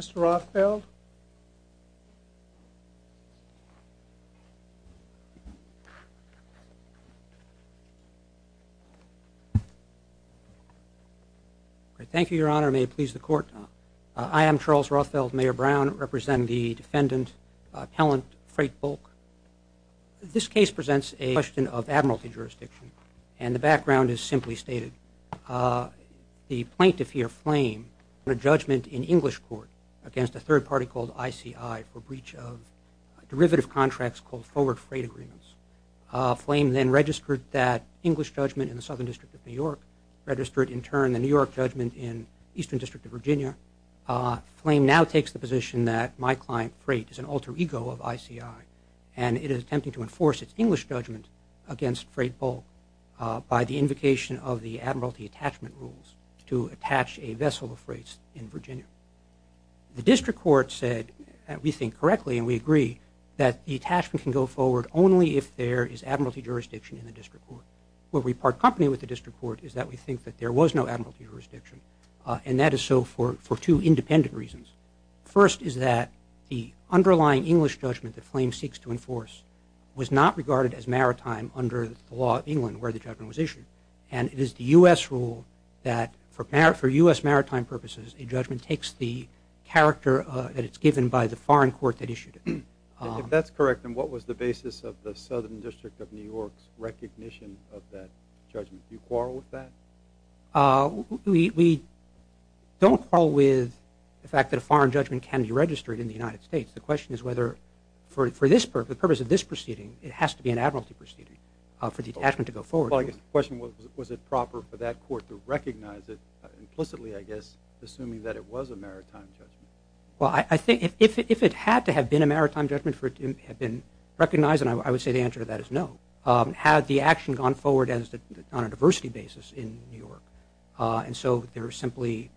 Mr. Rothfeld? Thank you, Your Honor. May it please the Court? I am Charles Rothfeld, Mayor Brown. I represent the defendant, Pellant, Freight Bulk. This case presents a question of admiralty jurisdiction, and the background is simply stated. The plaintiff here, FLAME, on a judgment in English court against a third party called ICI for breach of derivative contracts called Forward Freight Agreements. FLAME then registered that English judgment in the Southern District of New York, registered in turn the New York judgment in Eastern District of Virginia. FLAME now takes the position that my client, Freight, is an alter ego of ICI, and it is attempting to enforce its English judgment against Freight Bulk by the invocation of the Admiralty Attachment Rules to attach a vessel of freight in Virginia. The District Court said, and we think correctly and we agree, that the attachment can go forward only if there is admiralty jurisdiction in the District Court. Where we part company with the District Court is that we think that there was no admiralty jurisdiction, and that is so for two independent reasons. First is that the underlying English judgment that FLAME seeks to enforce was not regarded as maritime under the law of England where the judgment was issued, and it is the U.S. rule that for U.S. maritime purposes, a judgment takes the character that it's given by the foreign court that issued it. If that's correct, then what was the basis of the Southern District of New York's recognition of that judgment? Do you quarrel with that? We don't quarrel with the fact that a foreign judgment can be registered in the United States. The question is whether for the purpose of this proceeding, it has to be an admiralty proceeding for the attachment to go forward. The question was, was it proper for that court to recognize it implicitly, I guess, assuming that it was a maritime judgment? Well, I think if it had to have been a maritime judgment for it to have been recognized, then I would say the answer to that is no. Had the action gone forward on a diversity basis in New York, and so they were simply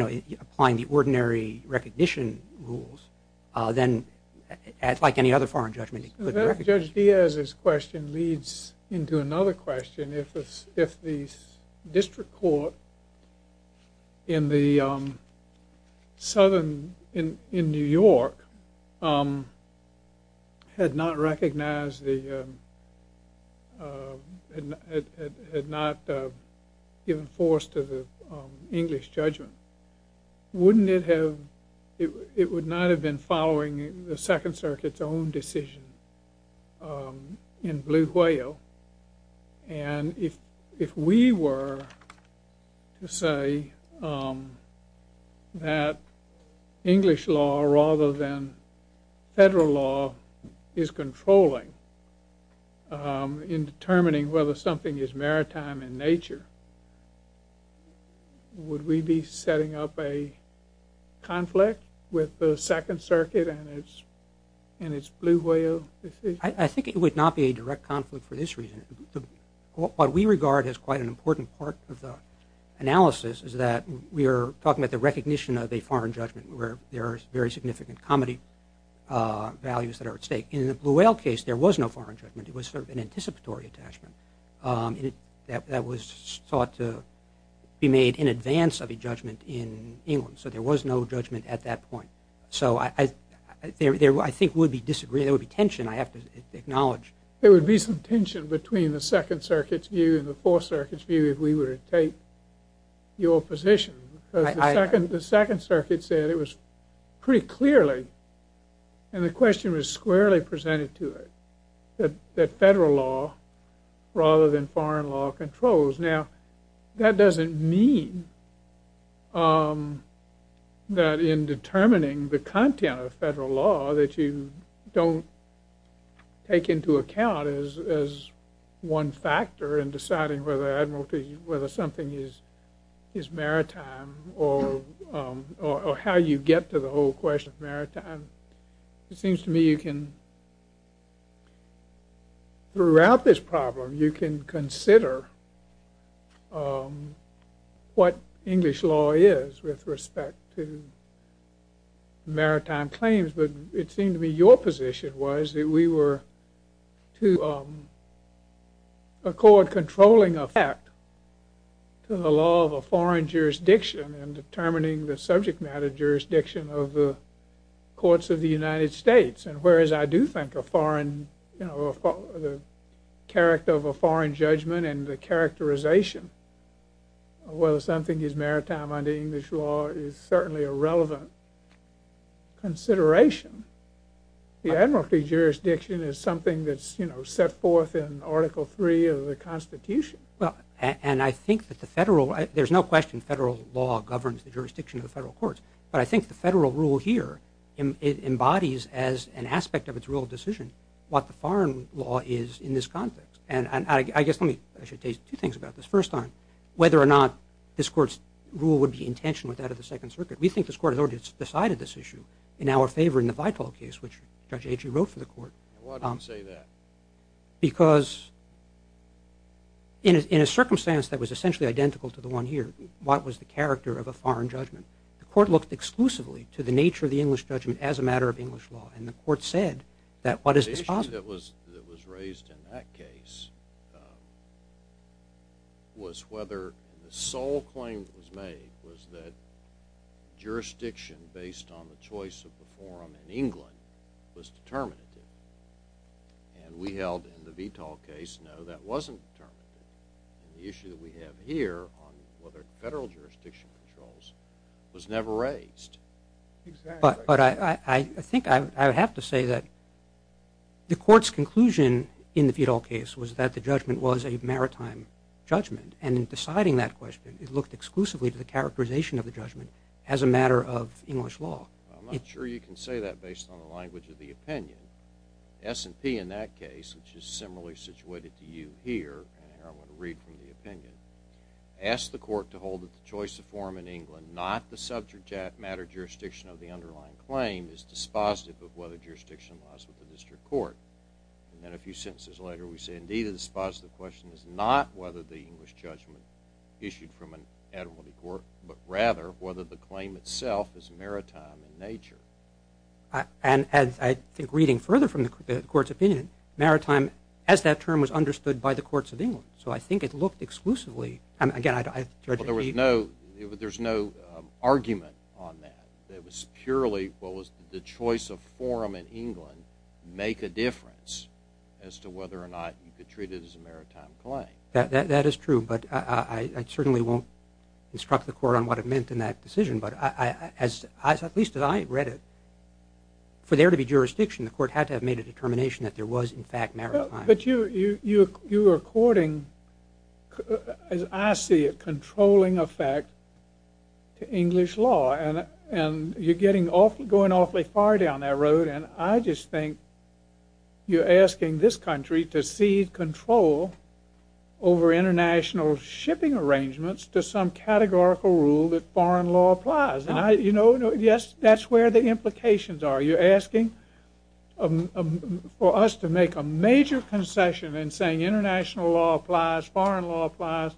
applying the ordinary recognition rules, then like any other foreign judgment, it couldn't be recognized. Judge Diaz's question leads into another question. If the district court in New York had not given force to the English judgment, it would not have been following the Second Circuit's own decision in Blue Whale, and if we were to say that English law rather than federal law is controlling in determining whether something is maritime in nature, would we be setting up a conflict with the Second Circuit and its Blue Whale decision? I think it would not be a direct conflict for this reason. What we regard as quite an important part of the analysis is that we are talking about the recognition of a foreign judgment where there are very significant comedy values that are at stake. In the Blue Whale case, there was no foreign judgment. It was sort of an anticipatory attachment that was thought to be made in advance of a judgment in England, so there was no judgment at that point. So I think there would be tension, I have to acknowledge. There would be some tension between the Second Circuit's view and the Fourth Circuit's view if we were to take your position. The Second Circuit said it was pretty clearly, and the question was squarely presented to it, that federal law rather than foreign law controls. Now, that doesn't mean that in determining the content of federal law that you don't take into account as one factor in deciding whether something is maritime or how you get to the whole question of maritime. It seems to me you can, throughout this problem, you can consider what English law is with respect to maritime claims, but it seemed to me your position was that we were to accord controlling effect to the law of a foreign jurisdiction and determining the subject matter jurisdiction of the courts of the United States, and whereas I do think a foreign, you know, the character of a foreign judgment and the characterization of whether something is maritime under English law is certainly a relevant consideration. The admiralty jurisdiction is something that's, you know, set forth in Article III of the Constitution. And I think that the federal, there's no question federal law governs the jurisdiction of the federal courts, but I think the federal rule here embodies as an aspect of its rule of decision what the foreign law is in this context. And I guess let me, I should say two things about this. First on whether or not this court's rule would be in tension with that of the Second Circuit. We think this court has already decided this issue in our favor in the Vital case, which Judge Agee wrote for the court. Why do you say that? Because in a circumstance that was essentially identical to the one here, what was the character of a foreign judgment? The court looked exclusively to the nature of the English judgment as a matter of English law, and the court said that what is the… The issue that was raised in that case was whether the sole claim that was made was that jurisdiction based on the choice of the forum in England was determinative. And we held in the Vital case, no, that wasn't determinative. The issue that we have here on whether federal jurisdiction controls was never raised. But I think I would have to say that the court's conclusion in the Vital case was that the judgment was a maritime judgment, and in deciding that question, it looked exclusively to the characterization of the judgment as a matter of English law. I'm not sure you can say that based on the language of the opinion. S&P in that case, which is similarly situated to you here, and I want to read from the opinion, asked the court to hold that the choice of forum in England, not the subject matter jurisdiction of the underlying claim, is dispositive of whether jurisdiction lies with the district court. And then a few sentences later, we say, indeed, the dispositive question is not whether the English judgment issued from an admiralty court, but rather whether the claim itself is maritime in nature. And I think reading further from the court's opinion, maritime, as that term was understood by the courts of England, so I think it looked exclusively, again, I'd like to hear. Well, there was no argument on that. It was purely what was the choice of forum in England make a difference as to whether or not you could treat it as a maritime claim. That is true, but I certainly won't instruct the court on what it meant in that decision. But at least as I read it, for there to be jurisdiction, the court had to have made a determination that there was, in fact, maritime. But you are courting, as I see it, controlling effect to English law. And you're going awfully far down that road, and I just think you're asking this country to cede control over international shipping arrangements to some categorical rule that foreign law applies. Yes, that's where the implications are. You're asking for us to make a major concession in saying international law applies, foreign law applies.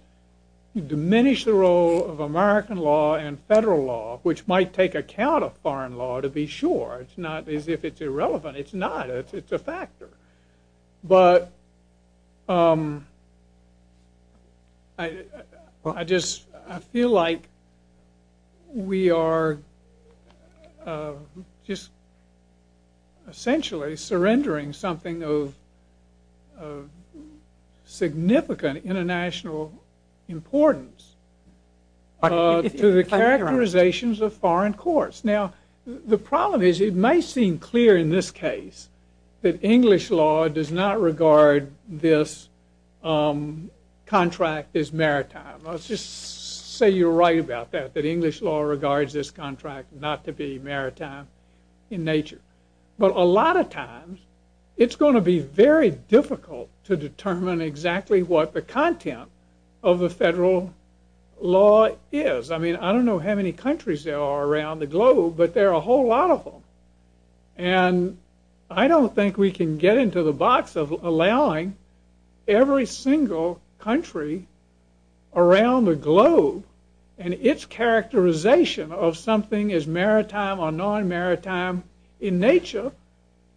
You diminish the role of American law and federal law, which might take account of foreign law, to be sure. It's not as if it's irrelevant. It's not. It's a factor. But I just feel like we are just essentially surrendering something of significant international importance to the characterizations of foreign courts. Now, the problem is it may seem clear in this case that English law does not regard this contract as maritime. Let's just say you're right about that, that English law regards this contract not to be maritime in nature. But a lot of times, it's going to be very difficult to determine exactly what the content of the federal law is. I mean, I don't know how many countries there are around the globe, but there are a whole lot of them. And I don't think we can get into the box of allowing every single country around the globe and its characterization of something as maritime or non-maritime in nature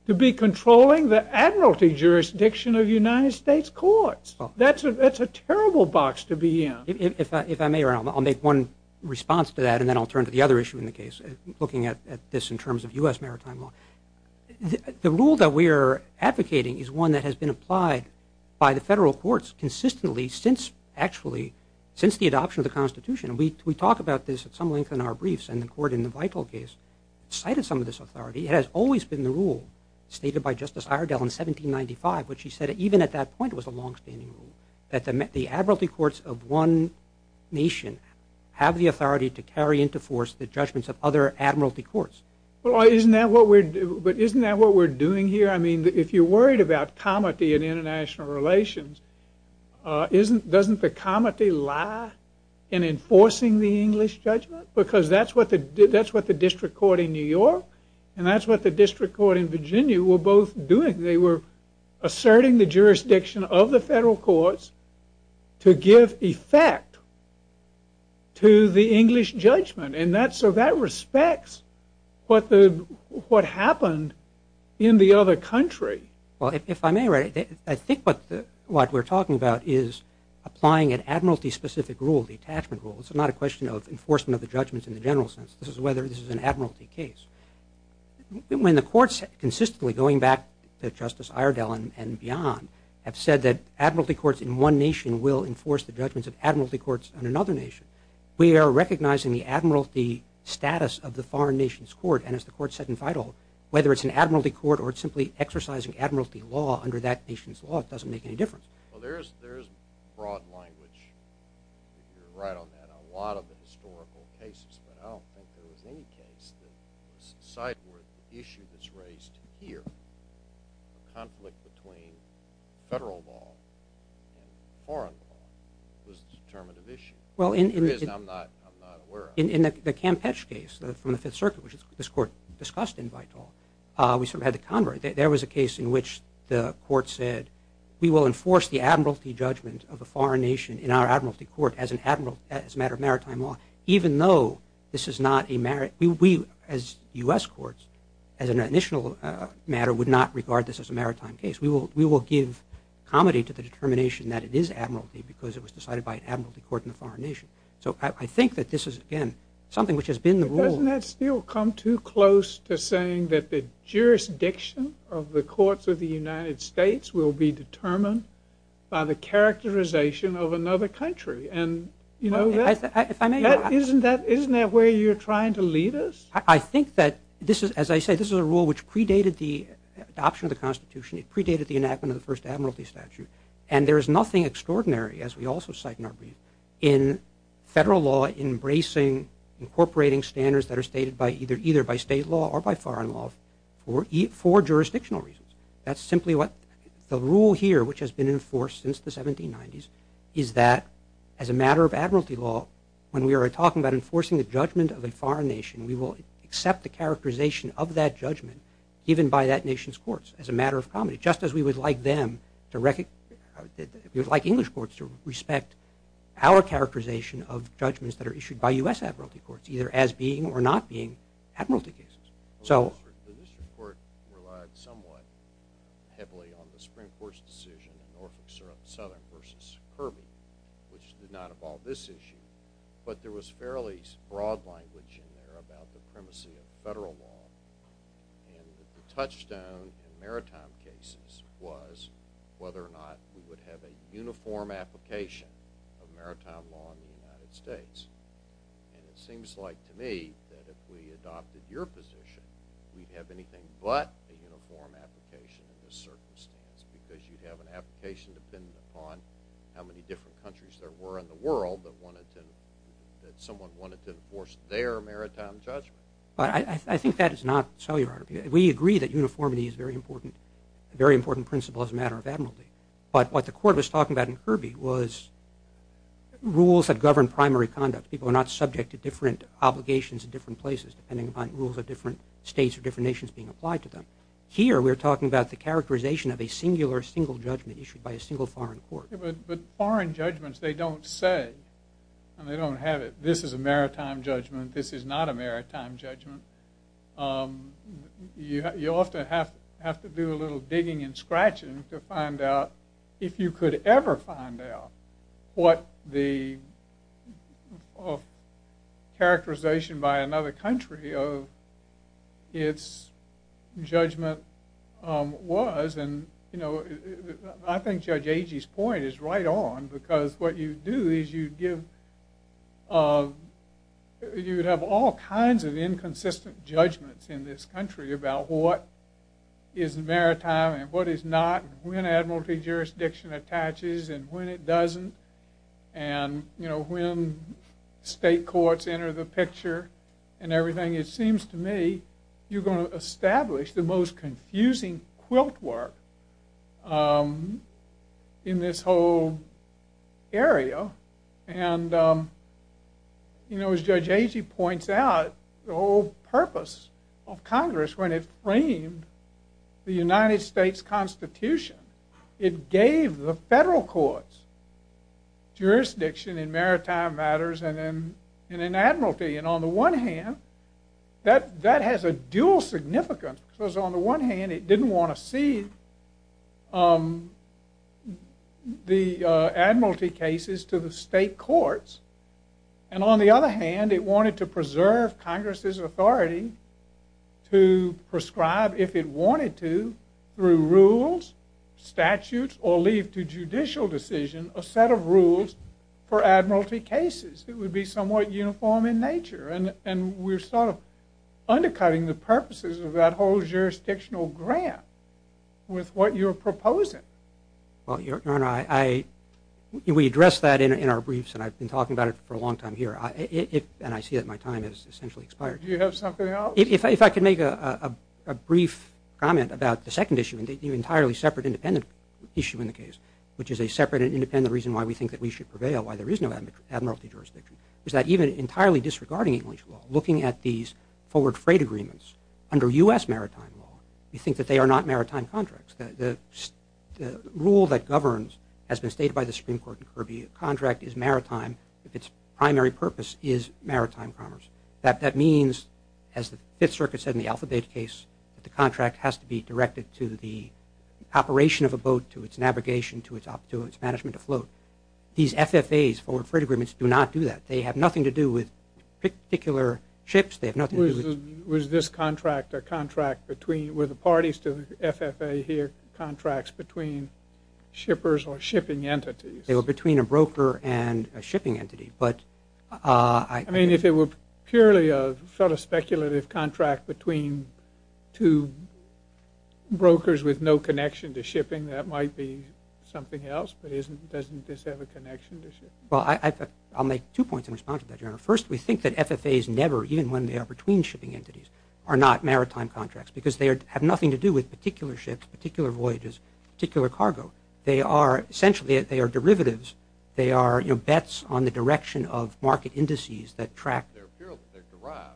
to be controlling the admiralty jurisdiction of United States courts. That's a terrible box to be in. If I may, I'll make one response to that, and then I'll turn to the other issue in the case, looking at this in terms of U.S. maritime law. The rule that we are advocating is one that has been applied by the federal courts consistently since the adoption of the Constitution. We talk about this at some length in our briefs, and the court in the Vital case cited some of this authority. It has always been the rule stated by Justice Iredell in 1795, which he said even at that point was a longstanding rule, that the admiralty courts of one nation have the authority to carry into force the judgments of other admiralty courts. But isn't that what we're doing here? I mean, if you're worried about comity in international relations, doesn't the comity lie in enforcing the English judgment? Because that's what the district court in New York and that's what the district court in Virginia were both doing. They were asserting the jurisdiction of the federal courts to give effect to the English judgment, and so that respects what happened in the other country. Well, if I may, I think what we're talking about is applying an admiralty-specific rule, the attachment rule. It's not a question of enforcement of the judgments in the general sense. This is whether this is an admiralty case. When the courts consistently, going back to Justice Iredell and beyond, have said that admiralty courts in one nation will enforce the judgments of admiralty courts in another nation, we are recognizing the admiralty status of the foreign nation's court, and as the court said in Feudal, whether it's an admiralty court or it's simply exercising admiralty law under that nation's law, it doesn't make any difference. Well, there is broad language, if you're right on that, on a lot of the historical cases, but I don't think there was any case that was sideward. The issue that's raised here, the conflict between federal law and foreign law, was a determinative issue. It is, and I'm not aware of it. In the Campeche case from the Fifth Circuit, which this court discussed in Vital, we sort of had to convert it. There was a case in which the court said, we will enforce the admiralty judgment of a foreign nation in our admiralty court as a matter of maritime law, even though this is not a maritime, we as U.S. courts, as an initial matter, would not regard this as a maritime case. We will give comity to the determination that it is admiralty because it was decided by an admiralty court in a foreign nation. So I think that this is, again, something which has been the rule. Doesn't that still come too close to saying that the jurisdiction of the courts of the United States will be determined by the characterization of another country? Isn't that where you're trying to lead us? I think that, as I say, this is a rule which predated the adoption of the Constitution. It predated the enactment of the first admiralty statute. And there is nothing extraordinary, as we also cite in our brief, in federal law embracing incorporating standards that are stated either by state law or by foreign law for jurisdictional reasons. That's simply what the rule here, which has been enforced since the 1790s, is that as a matter of admiralty law, when we are talking about enforcing the judgment of a foreign nation, we will accept the characterization of that judgment given by that nation's courts as a matter of comity, just as we would like English courts to respect our characterization of judgments that are issued by U.S. admiralty courts, either as being or not being admiralty cases. The district court relied somewhat heavily on the Supreme Court's decision in Norfolk Southern v. Kirby, which did not involve this issue, but there was fairly broad language in there about the primacy of federal law. And the touchstone in maritime cases was whether or not we would have a uniform application of maritime law in the United States. And it seems like to me that if we adopted your position, we'd have anything but a uniform application in this circumstance, because you'd have an application dependent upon how many different countries there were in the world that someone wanted to enforce their maritime judgment. But I think that is not so, Your Honor. We agree that uniformity is a very important principle as a matter of admiralty. But what the court was talking about in Kirby was rules that govern primary conduct. People are not subject to different obligations in different places, depending upon rules of different states or different nations being applied to them. Here, we're talking about the characterization of a singular single judgment issued by a single foreign court. But foreign judgments, they don't say, and they don't have it, this is a maritime judgment, this is not a maritime judgment. You often have to do a little digging and scratching to find out, if you could ever find out what the characterization by another country of its judgment was. I think Judge Agee's point is right on, because what you do is you'd have all kinds of inconsistent judgments in this country about what is maritime and what is not, when admiralty jurisdiction attaches and when it doesn't, and when state courts enter the picture and everything. It seems to me you're going to establish the most confusing quiltwork in this whole area. As Judge Agee points out, the whole purpose of Congress, when it framed the United States Constitution, it gave the federal courts jurisdiction in maritime matters and in admiralty. And on the one hand, that has a dual significance, because on the one hand, it didn't want to cede the admiralty cases to the state courts. And on the other hand, it wanted to preserve Congress's authority to prescribe, if it wanted to, through rules, statutes, or leave to judicial decision, a set of rules for admiralty cases. It would be somewhat uniform in nature. And we're sort of undercutting the purposes of that whole jurisdictional grant with what you're proposing. Well, Your Honor, we address that in our briefs, and I've been talking about it for a long time here. And I see that my time has essentially expired. Do you have something else? If I could make a brief comment about the second issue, an entirely separate, independent issue in the case, which is a separate and independent reason why we think that we should prevail, why there is no admiralty jurisdiction, is that even entirely disregarding English law, looking at these forward freight agreements under U.S. maritime law, we think that they are not maritime contracts. The rule that governs, as was stated by the Supreme Court in Kirby, a contract is maritime if its primary purpose is maritime commerce. That means, as the Fifth Circuit said in the Alphabet case, that the contract has to be directed to the operation of a boat, to its navigation, to its management afloat. These FFAs, forward freight agreements, do not do that. They have nothing to do with particular ships. They have nothing to do with – Was this contract a contract between – were the parties to the FFA here contracts between shippers or shipping entities? They were between a broker and a shipping entity. I mean, if it were purely a sort of speculative contract between two brokers with no connection to shipping, that might be something else, but doesn't this have a connection to shipping? Well, I'll make two points in response to that, Your Honor. First, we think that FFAs never, even when they are between shipping entities, are not maritime contracts because they have nothing to do with particular ships, particular voyages, particular cargo. Essentially, they are derivatives. They are bets on the direction of market indices that track – They're derived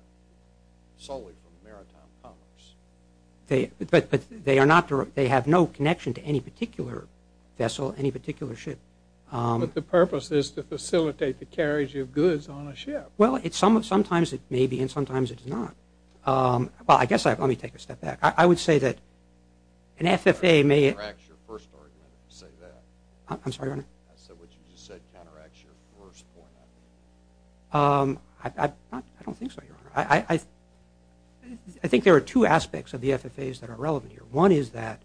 solely from maritime commerce. But they are not – they have no connection to any particular vessel, any particular ship. But the purpose is to facilitate the carriage of goods on a ship. Well, sometimes it may be, and sometimes it's not. Well, I guess – let me take a step back. I would say that an FFA may – That counteracts your first argument, if you say that. I'm sorry, Your Honor? I said what you just said counteracts your first point. I don't think so, Your Honor. I think there are two aspects of the FFAs that are relevant here. One is that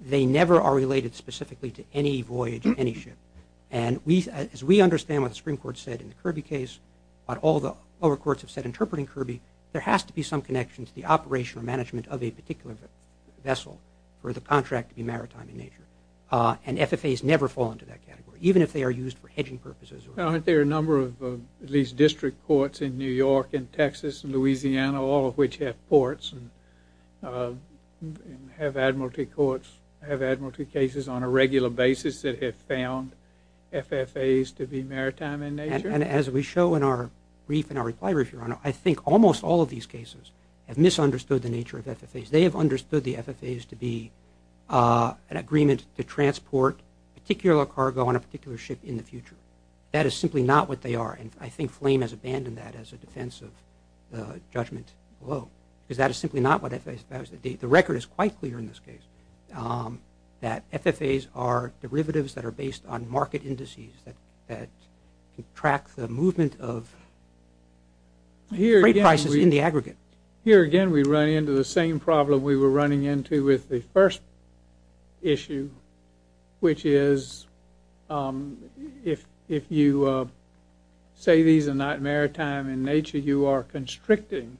they never are related specifically to any voyage, any ship. And as we understand what the Supreme Court said in the Kirby case, what all the lower courts have said interpreting Kirby, there has to be some connection to the operation or management of a particular vessel for the contract to be maritime in nature. And FFAs never fall into that category, even if they are used for hedging purposes. Aren't there a number of at least district courts in New York and Texas and Louisiana, all of which have courts and have admiralty courts, have admiralty cases on a regular basis that have found FFAs to be maritime in nature? And as we show in our brief and our reply brief, Your Honor, I think almost all of these cases have misunderstood the nature of FFAs. They have understood the FFAs to be an agreement to transport a particular cargo on a particular ship in the future. That is simply not what they are. And I think Flame has abandoned that as a defense of the judgment below because that is simply not what FFAs – the record is quite clear in this case that FFAs are derivatives that are based on market indices that track the movement of freight prices in the aggregate. Here again we run into the same problem we were running into with the first issue, which is if you say these are not maritime in nature, you are constricting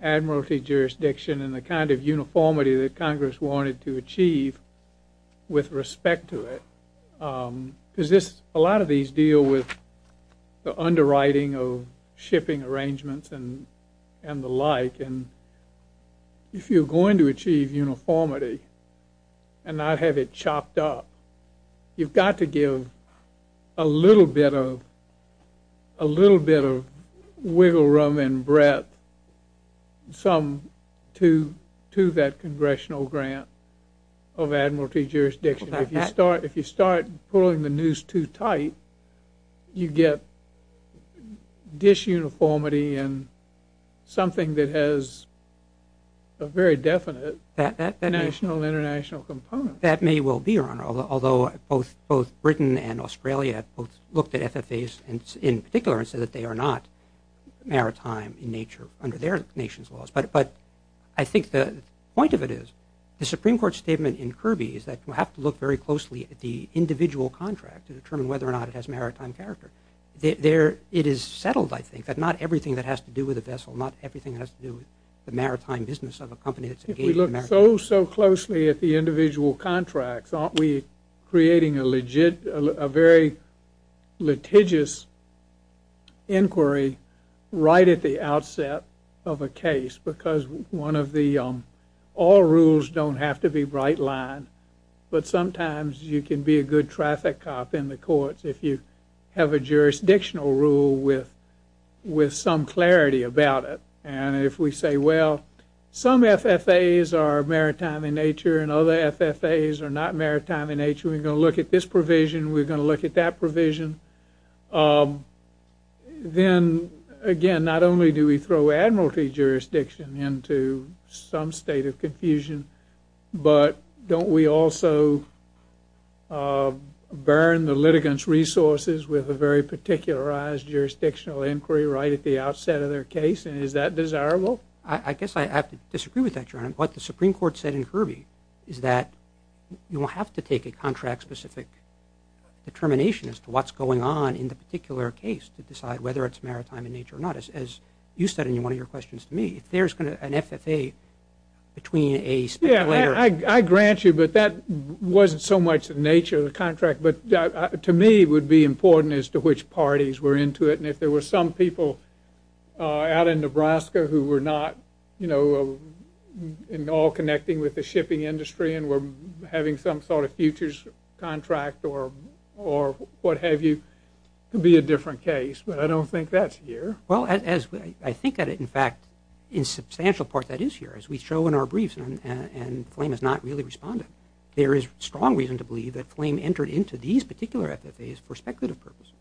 admiralty jurisdiction and the kind of uniformity that Congress wanted to achieve with respect to it. Because a lot of these deal with the underwriting of shipping arrangements and the like. And if you're going to achieve uniformity and not have it chopped up, you've got to give a little bit of wiggle room and breadth to that congressional grant of admiralty jurisdiction. If you start pulling the noose too tight, you get disuniformity and something that has a very definite national and international component. That may well be, Your Honor, although both Britain and Australia both looked at FFAs in particular and said that they are not maritime in nature under their nation's laws. But I think the point of it is the Supreme Court statement in Kirby is that you have to look very closely at the individual contract to determine whether or not it has maritime character. It is settled, I think, that not everything that has to do with a vessel, not everything that has to do with the maritime business of a company that's engaged in maritime business. If we look so, so closely at the individual contracts, aren't we creating a very litigious inquiry right at the outset of a case? Because all rules don't have to be bright-lined, but sometimes you can be a good traffic cop in the courts if you have a jurisdictional rule with some clarity about it. And if we say, well, some FFAs are maritime in nature and other FFAs are not maritime in nature, we're going to look at this provision, we're going to look at that provision. Then, again, not only do we throw admiralty jurisdiction into some state of confusion, but don't we also burn the litigants' resources with a very particularized jurisdictional inquiry right at the outset of their case? And is that desirable? I guess I have to disagree with that, Your Honor. What the Supreme Court said in Kirby is that you have to take a contract-specific determination as to what's going on in the particular case to decide whether it's maritime in nature or not. As you said in one of your questions to me, if there's an FFA between a speculator… Yeah, I grant you, but that wasn't so much the nature of the contract, but to me it would be important as to which parties were into it. And if there were some people out in Nebraska who were not at all connecting with the shipping industry and were having some sort of futures contract or what have you, it would be a different case. But I don't think that's here. Well, I think that, in fact, in substantial part that is here. As we show in our briefs, and Flame has not really responded, there is strong reason to believe that Flame entered into these particular FFAs for speculative purposes.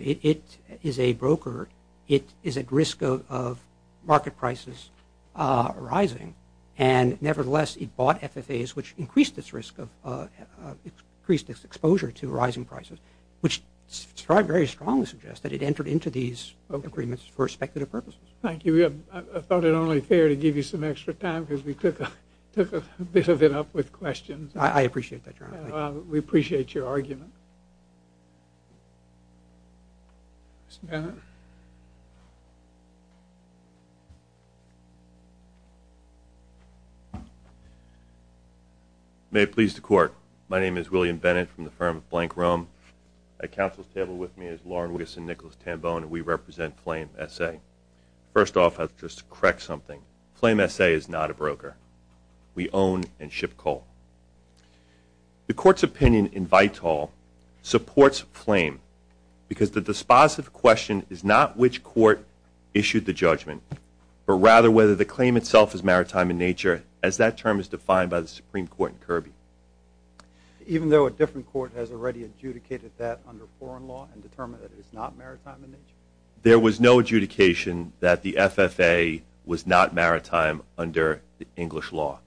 It is a broker. It is at risk of market prices rising. And nevertheless, it bought FFAs, which increased its exposure to rising prices, which I very strongly suggest that it entered into these agreements for speculative purposes. Thank you. I thought it only fair to give you some extra time because we took a bit of it up with questions. I appreciate that, Your Honor. We appreciate your argument. Mr. Bennett? May it please the Court. My name is William Bennett from the firm of Blank Rum. At Council's table with me is Lauren Wiggison and Nicholas Tambone, and we represent Flame SA. First off, I'd like to just correct something. Flame SA is not a broker. We own and ship coal. The Court's opinion in Vital supports Flame because the dispositive question is not which court issued the judgment, but rather whether the claim itself is maritime in nature, as that term is defined by the Supreme Court in Kirby. Even though a different court has already adjudicated that under foreign law and determined that it is not maritime in nature? There was no adjudication that the FFA was not maritime under English law.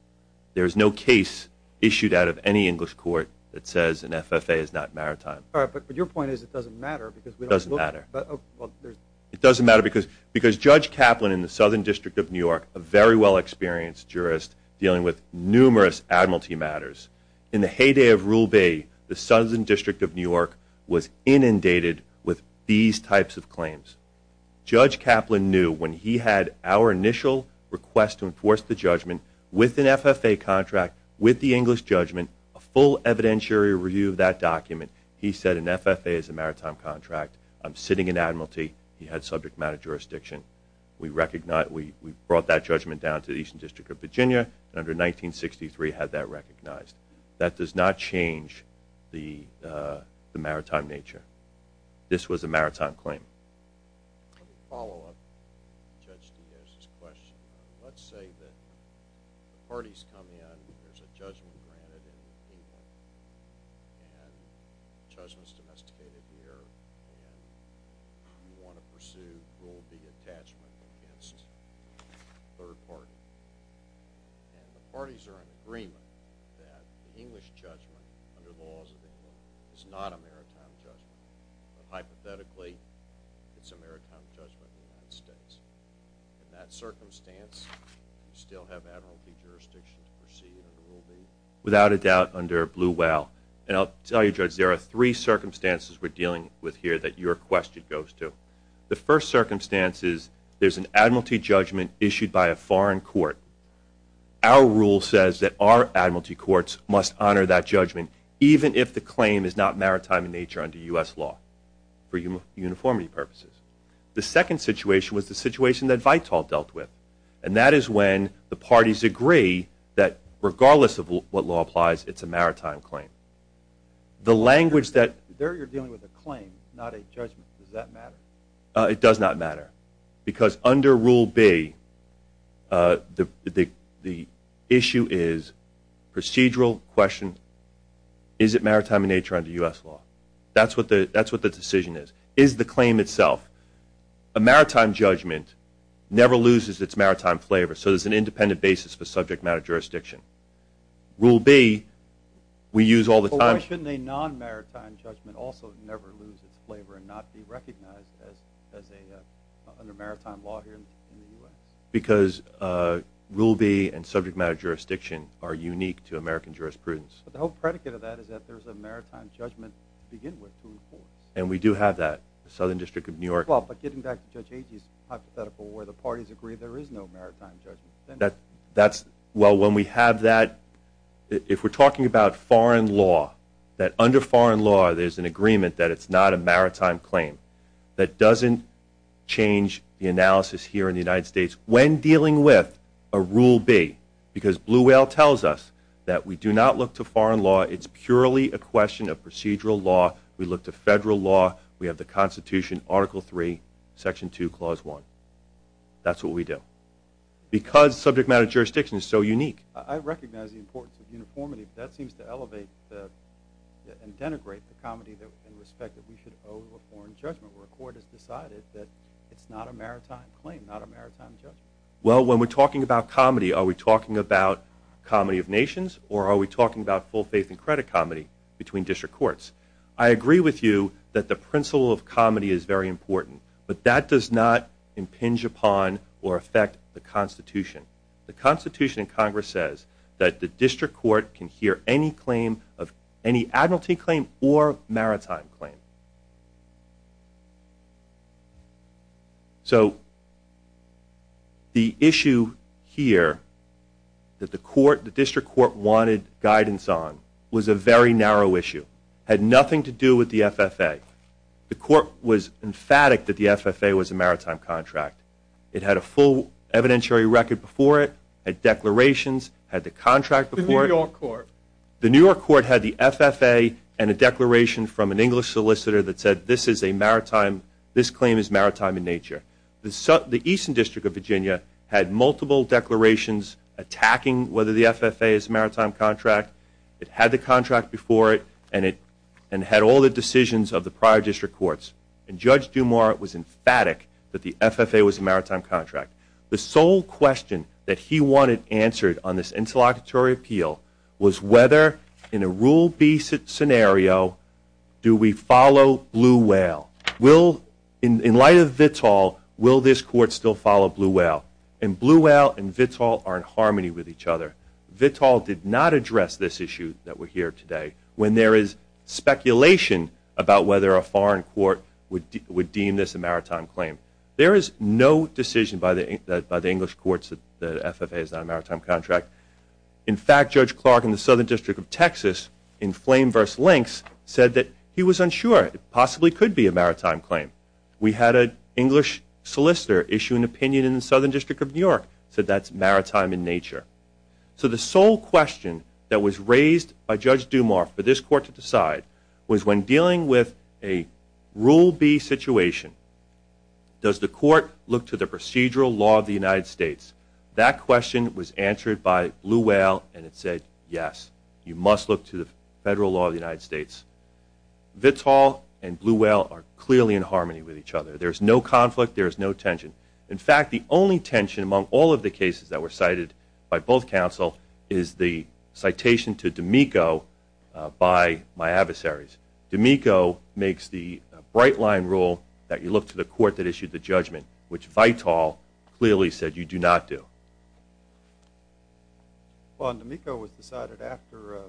There is no case issued out of any English court that says an FFA is not maritime. All right, but your point is it doesn't matter because we don't look... It doesn't matter. It doesn't matter because Judge Kaplan in the Southern District of New York, a very well-experienced jurist dealing with numerous admiralty matters, in the heyday of Rule B, the Southern District of New York was inundated with these types of claims. Judge Kaplan knew when he had our initial request to enforce the judgment with an FFA contract with the English judgment, a full evidentiary review of that document, he said an FFA is a maritime contract. I'm sitting in admiralty. He had subject matter jurisdiction. We brought that judgment down to the Eastern District of Virginia, and under 1963 had that recognized. That does not change the maritime nature. This was a maritime claim. Let me follow up Judge Diaz's question. Let's say that the parties come in, there's a judgment granted in England, and the judgment's domesticated here, and you want to pursue Rule B attachment against the third party. And the parties are in agreement that the English judgment under the laws of England is not a maritime judgment. Hypothetically, it's a maritime judgment in the United States. In that circumstance, you still have admiralty jurisdiction to pursue under Rule B. Without a doubt under Blue Whale. And I'll tell you, Judge, there are three circumstances we're dealing with here that your question goes to. The first circumstance is there's an admiralty judgment issued by a foreign court. Our rule says that our admiralty courts must honor that judgment even if the claim is not maritime in nature under U.S. law for uniformity purposes. The second situation was the situation that Vital dealt with, and that is when the parties agree that regardless of what law applies, it's a maritime claim. The language that- There you're dealing with a claim, not a judgment. Does that matter? It does not matter. Because under Rule B, the issue is procedural question, is it maritime in nature under U.S. law? That's what the decision is. Is the claim itself. A maritime judgment never loses its maritime flavor, so there's an independent basis for subject matter jurisdiction. Rule B, we use all the time- and not be recognized under maritime law here in the U.S. Because Rule B and subject matter jurisdiction are unique to American jurisprudence. But the whole predicate of that is that there's a maritime judgment to begin with to enforce. And we do have that. The Southern District of New York- Well, but getting back to Judge Agee's hypothetical where the parties agree there is no maritime judgment. That's- Well, when we have that, if we're talking about foreign law, that under foreign law there's an agreement that it's not a maritime claim, that doesn't change the analysis here in the United States when dealing with a Rule B. Because Blue Whale tells us that we do not look to foreign law. It's purely a question of procedural law. We look to federal law. We have the Constitution, Article III, Section 2, Clause 1. Because subject matter jurisdiction is so unique. I recognize the importance of uniformity, but that seems to elevate and denigrate the comedy and respect that we should owe to a foreign judgment where a court has decided that it's not a maritime claim, not a maritime judgment. Well, when we're talking about comedy, are we talking about comedy of nations, or are we talking about full faith and credit comedy between district courts? I agree with you that the principle of comedy is very important, but that does not impinge upon or affect the Constitution. The Constitution in Congress says that the district court can hear any claim, any admiralty claim or maritime claim. So the issue here that the district court wanted guidance on was a very narrow issue. It had nothing to do with the FFA. The court was emphatic that the FFA was a maritime contract. It had a full evidentiary record before it, had declarations, had the contract before it. The New York court. The New York court had the FFA and a declaration from an English solicitor that said, this claim is maritime in nature. The Eastern District of Virginia had multiple declarations attacking whether the FFA is a maritime contract. It had the contract before it, and it had all the decisions of the prior district courts. And Judge Dumas was emphatic that the FFA was a maritime contract. The sole question that he wanted answered on this interlocutory appeal was whether, in a Rule B scenario, do we follow Blue Whale? In light of Vittal, will this court still follow Blue Whale? And Blue Whale and Vittal are in harmony with each other. Vittal did not address this issue that we're here today. When there is speculation about whether a foreign court would deem this a maritime claim, there is no decision by the English courts that the FFA is not a maritime contract. In fact, Judge Clark in the Southern District of Texas in Flame v. Links said that he was unsure. It possibly could be a maritime claim. We had an English solicitor issue an opinion in the Southern District of New York, said that's maritime in nature. So the sole question that was raised by Judge Dumas for this court to decide was when dealing with a Rule B situation, does the court look to the procedural law of the United States? That question was answered by Blue Whale, and it said yes, you must look to the federal law of the United States. Vittal and Blue Whale are clearly in harmony with each other. There is no conflict. There is no tension. In fact, the only tension among all of the cases that were cited by both counsel is the citation to D'Amico by my adversaries. D'Amico makes the bright-line rule that you look to the court that issued the judgment, which Vittal clearly said you do not do. Well, D'Amico was decided after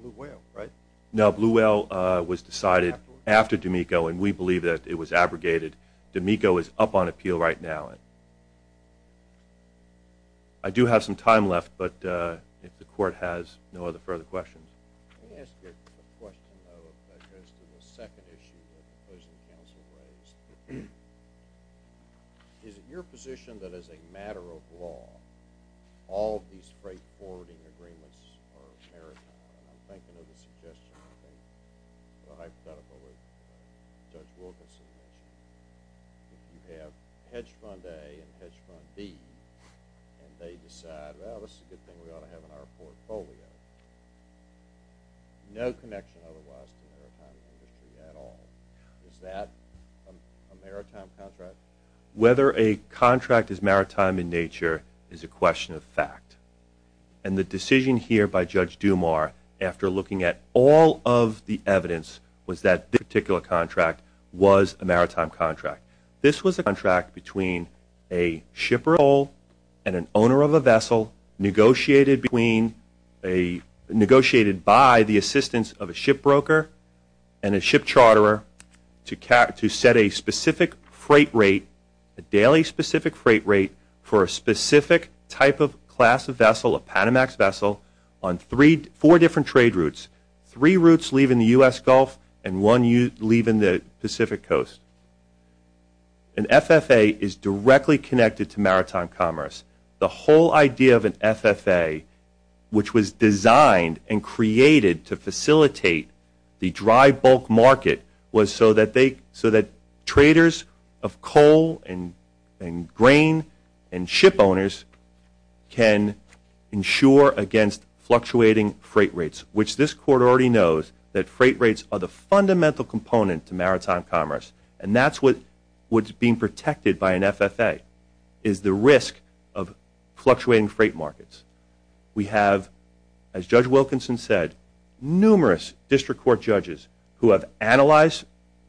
Blue Whale, right? No, Blue Whale was decided after D'Amico, and we believe that it was abrogated. D'Amico is up on appeal right now. I do have some time left, but if the court has no other further questions. Let me ask you a question, though, that goes to the second issue that the opposing counsel raised. Is it your position that as a matter of law, all of these straightforwarding agreements are maritime? I'm thinking of the suggestion of a hypothetical that Judge Wilkinson mentioned. You have hedge fund A and hedge fund B, and they decide, well, this is a good thing we ought to have in our portfolio. No connection otherwise to maritime industry at all. Is that a maritime contract? Whether a contract is maritime in nature is a question of fact, and the decision here by Judge Dumar after looking at all of the evidence was that this particular contract was a maritime contract. This was a contract between a shipper of coal and an owner of a vessel negotiated by the assistance of a ship broker and a ship charterer to set a specific freight rate, a daily specific freight rate, for a specific type of class of vessel, a Panamax vessel, on four different trade routes, three routes leaving the U.S. Gulf and one leaving the Pacific Coast. An FFA is directly connected to maritime commerce. The whole idea of an FFA, which was designed and created to facilitate the dry bulk market, was so that traders of coal and grain and ship owners can insure against fluctuating freight rates, which this court already knows that freight rates are the fundamental component to maritime commerce, and that's what's being protected by an FFA is the risk of fluctuating freight markets. We have, as Judge Wilkinson said, numerous district court judges who have analyzed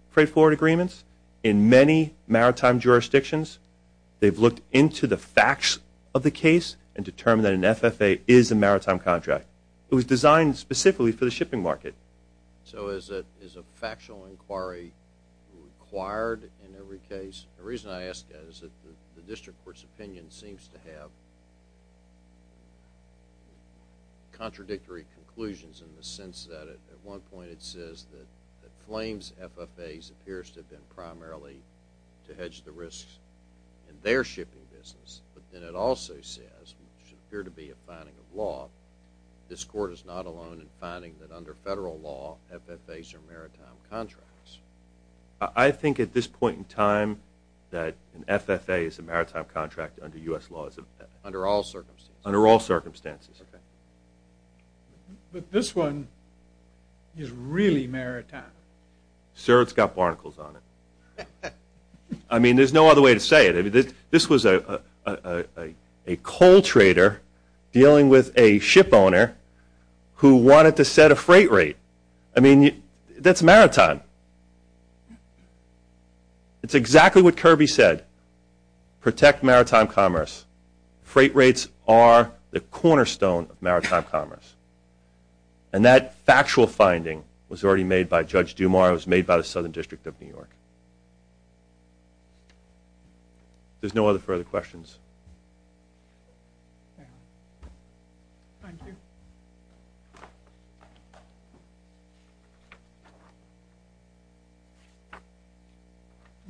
freight forward agreements in many maritime jurisdictions. They've looked into the facts of the case and determined that an FFA is a maritime contract. It was designed specifically for the shipping market. So is a factual inquiry required in every case? The reason I ask that is that the district court's opinion seems to have contradictory conclusions in the sense that at one point it says that Flames FFAs appears to have been primarily to hedge the risks in their shipping business, but then it also says, which should appear to be a finding of law, this court is not alone in finding that under federal law FFAs are maritime contracts. I think at this point in time that an FFA is a maritime contract under U.S. law. Under all circumstances? Under all circumstances. Okay. But this one is really maritime. Sir, it's got barnacles on it. I mean, there's no other way to say it. This was a coal trader dealing with a ship owner who wanted to set a freight rate. I mean, that's maritime. It's exactly what Kirby said, protect maritime commerce. Freight rates are the cornerstone of maritime commerce. And that factual finding was already made by Judge Dumas. It was made by the Southern District of New York. There's no other further questions. Thank you.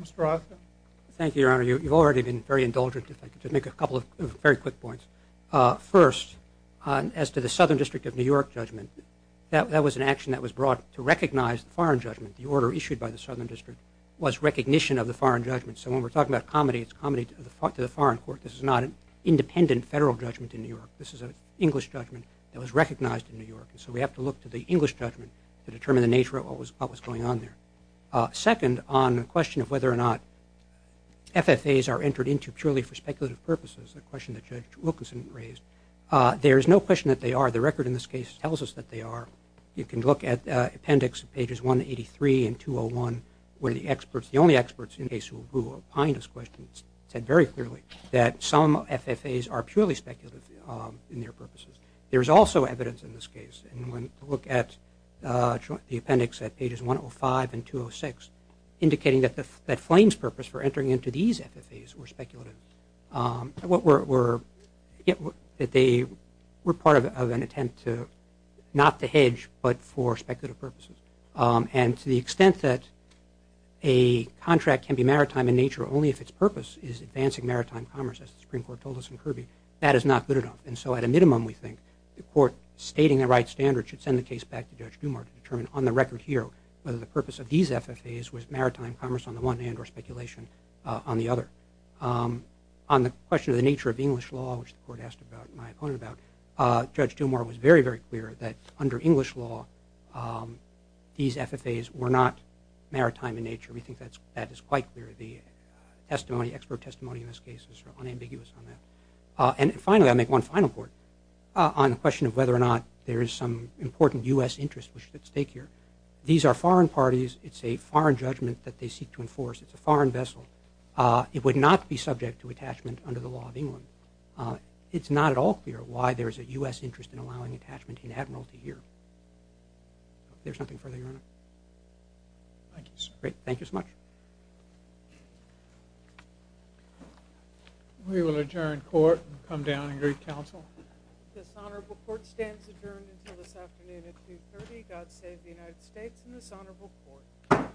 Mr. Rothman. Thank you, Your Honor. You've already been very indulgent, if I could just make a couple of very quick points. First, as to the Southern District of New York judgment, that was an action that was brought to recognize the foreign judgment. The order issued by the Southern District was recognition of the foreign judgment. So when we're talking about comedy, it's comedy to the foreign court. This is not an independent federal judgment in New York. This is an English judgment that was recognized in New York. And so we have to look to the English judgment to determine the nature of what was going on there. Second, on the question of whether or not FFAs are entered into purely for speculative purposes, a question that Judge Wilkinson raised, there is no question that they are. The record in this case tells us that they are. You can look at Appendix Pages 183 and 201, where the experts, the only experts in the case who will find this question said very clearly that some FFAs are purely speculative in their purposes. There is also evidence in this case. Look at the appendix at Pages 105 and 206, indicating that Flame's purpose for entering into these FFAs were speculative. They were part of an attempt not to hedge but for speculative purposes. And to the extent that a contract can be maritime in nature only if its purpose is advancing maritime commerce, as the Supreme Court told us in Kirby, that is not good enough. And so at a minimum we think the court stating the right standards should send the case back to Judge Dumour to determine on the record here whether the purpose of these FFAs was maritime commerce on the one hand or speculation on the other. On the question of the nature of English law, which the court asked my opponent about, Judge Dumour was very, very clear that under English law these FFAs were not maritime in nature. We think that is quite clear. The expert testimony in this case is unambiguous on that. And finally, I'll make one final point on the question of whether or not there is some important U.S. interest at stake here. These are foreign parties. It's a foreign judgment that they seek to enforce. It's a foreign vessel. It would not be subject to attachment under the law of England. It's not at all clear why there is a U.S. interest in allowing attachment in Admiralty here. If there's nothing further, Your Honor. Thank you, sir. Great. Thank you so much. We will adjourn court and come down and greet counsel. This honorable court stands adjourned until this afternoon at 2.30. God save the United States and this honorable court.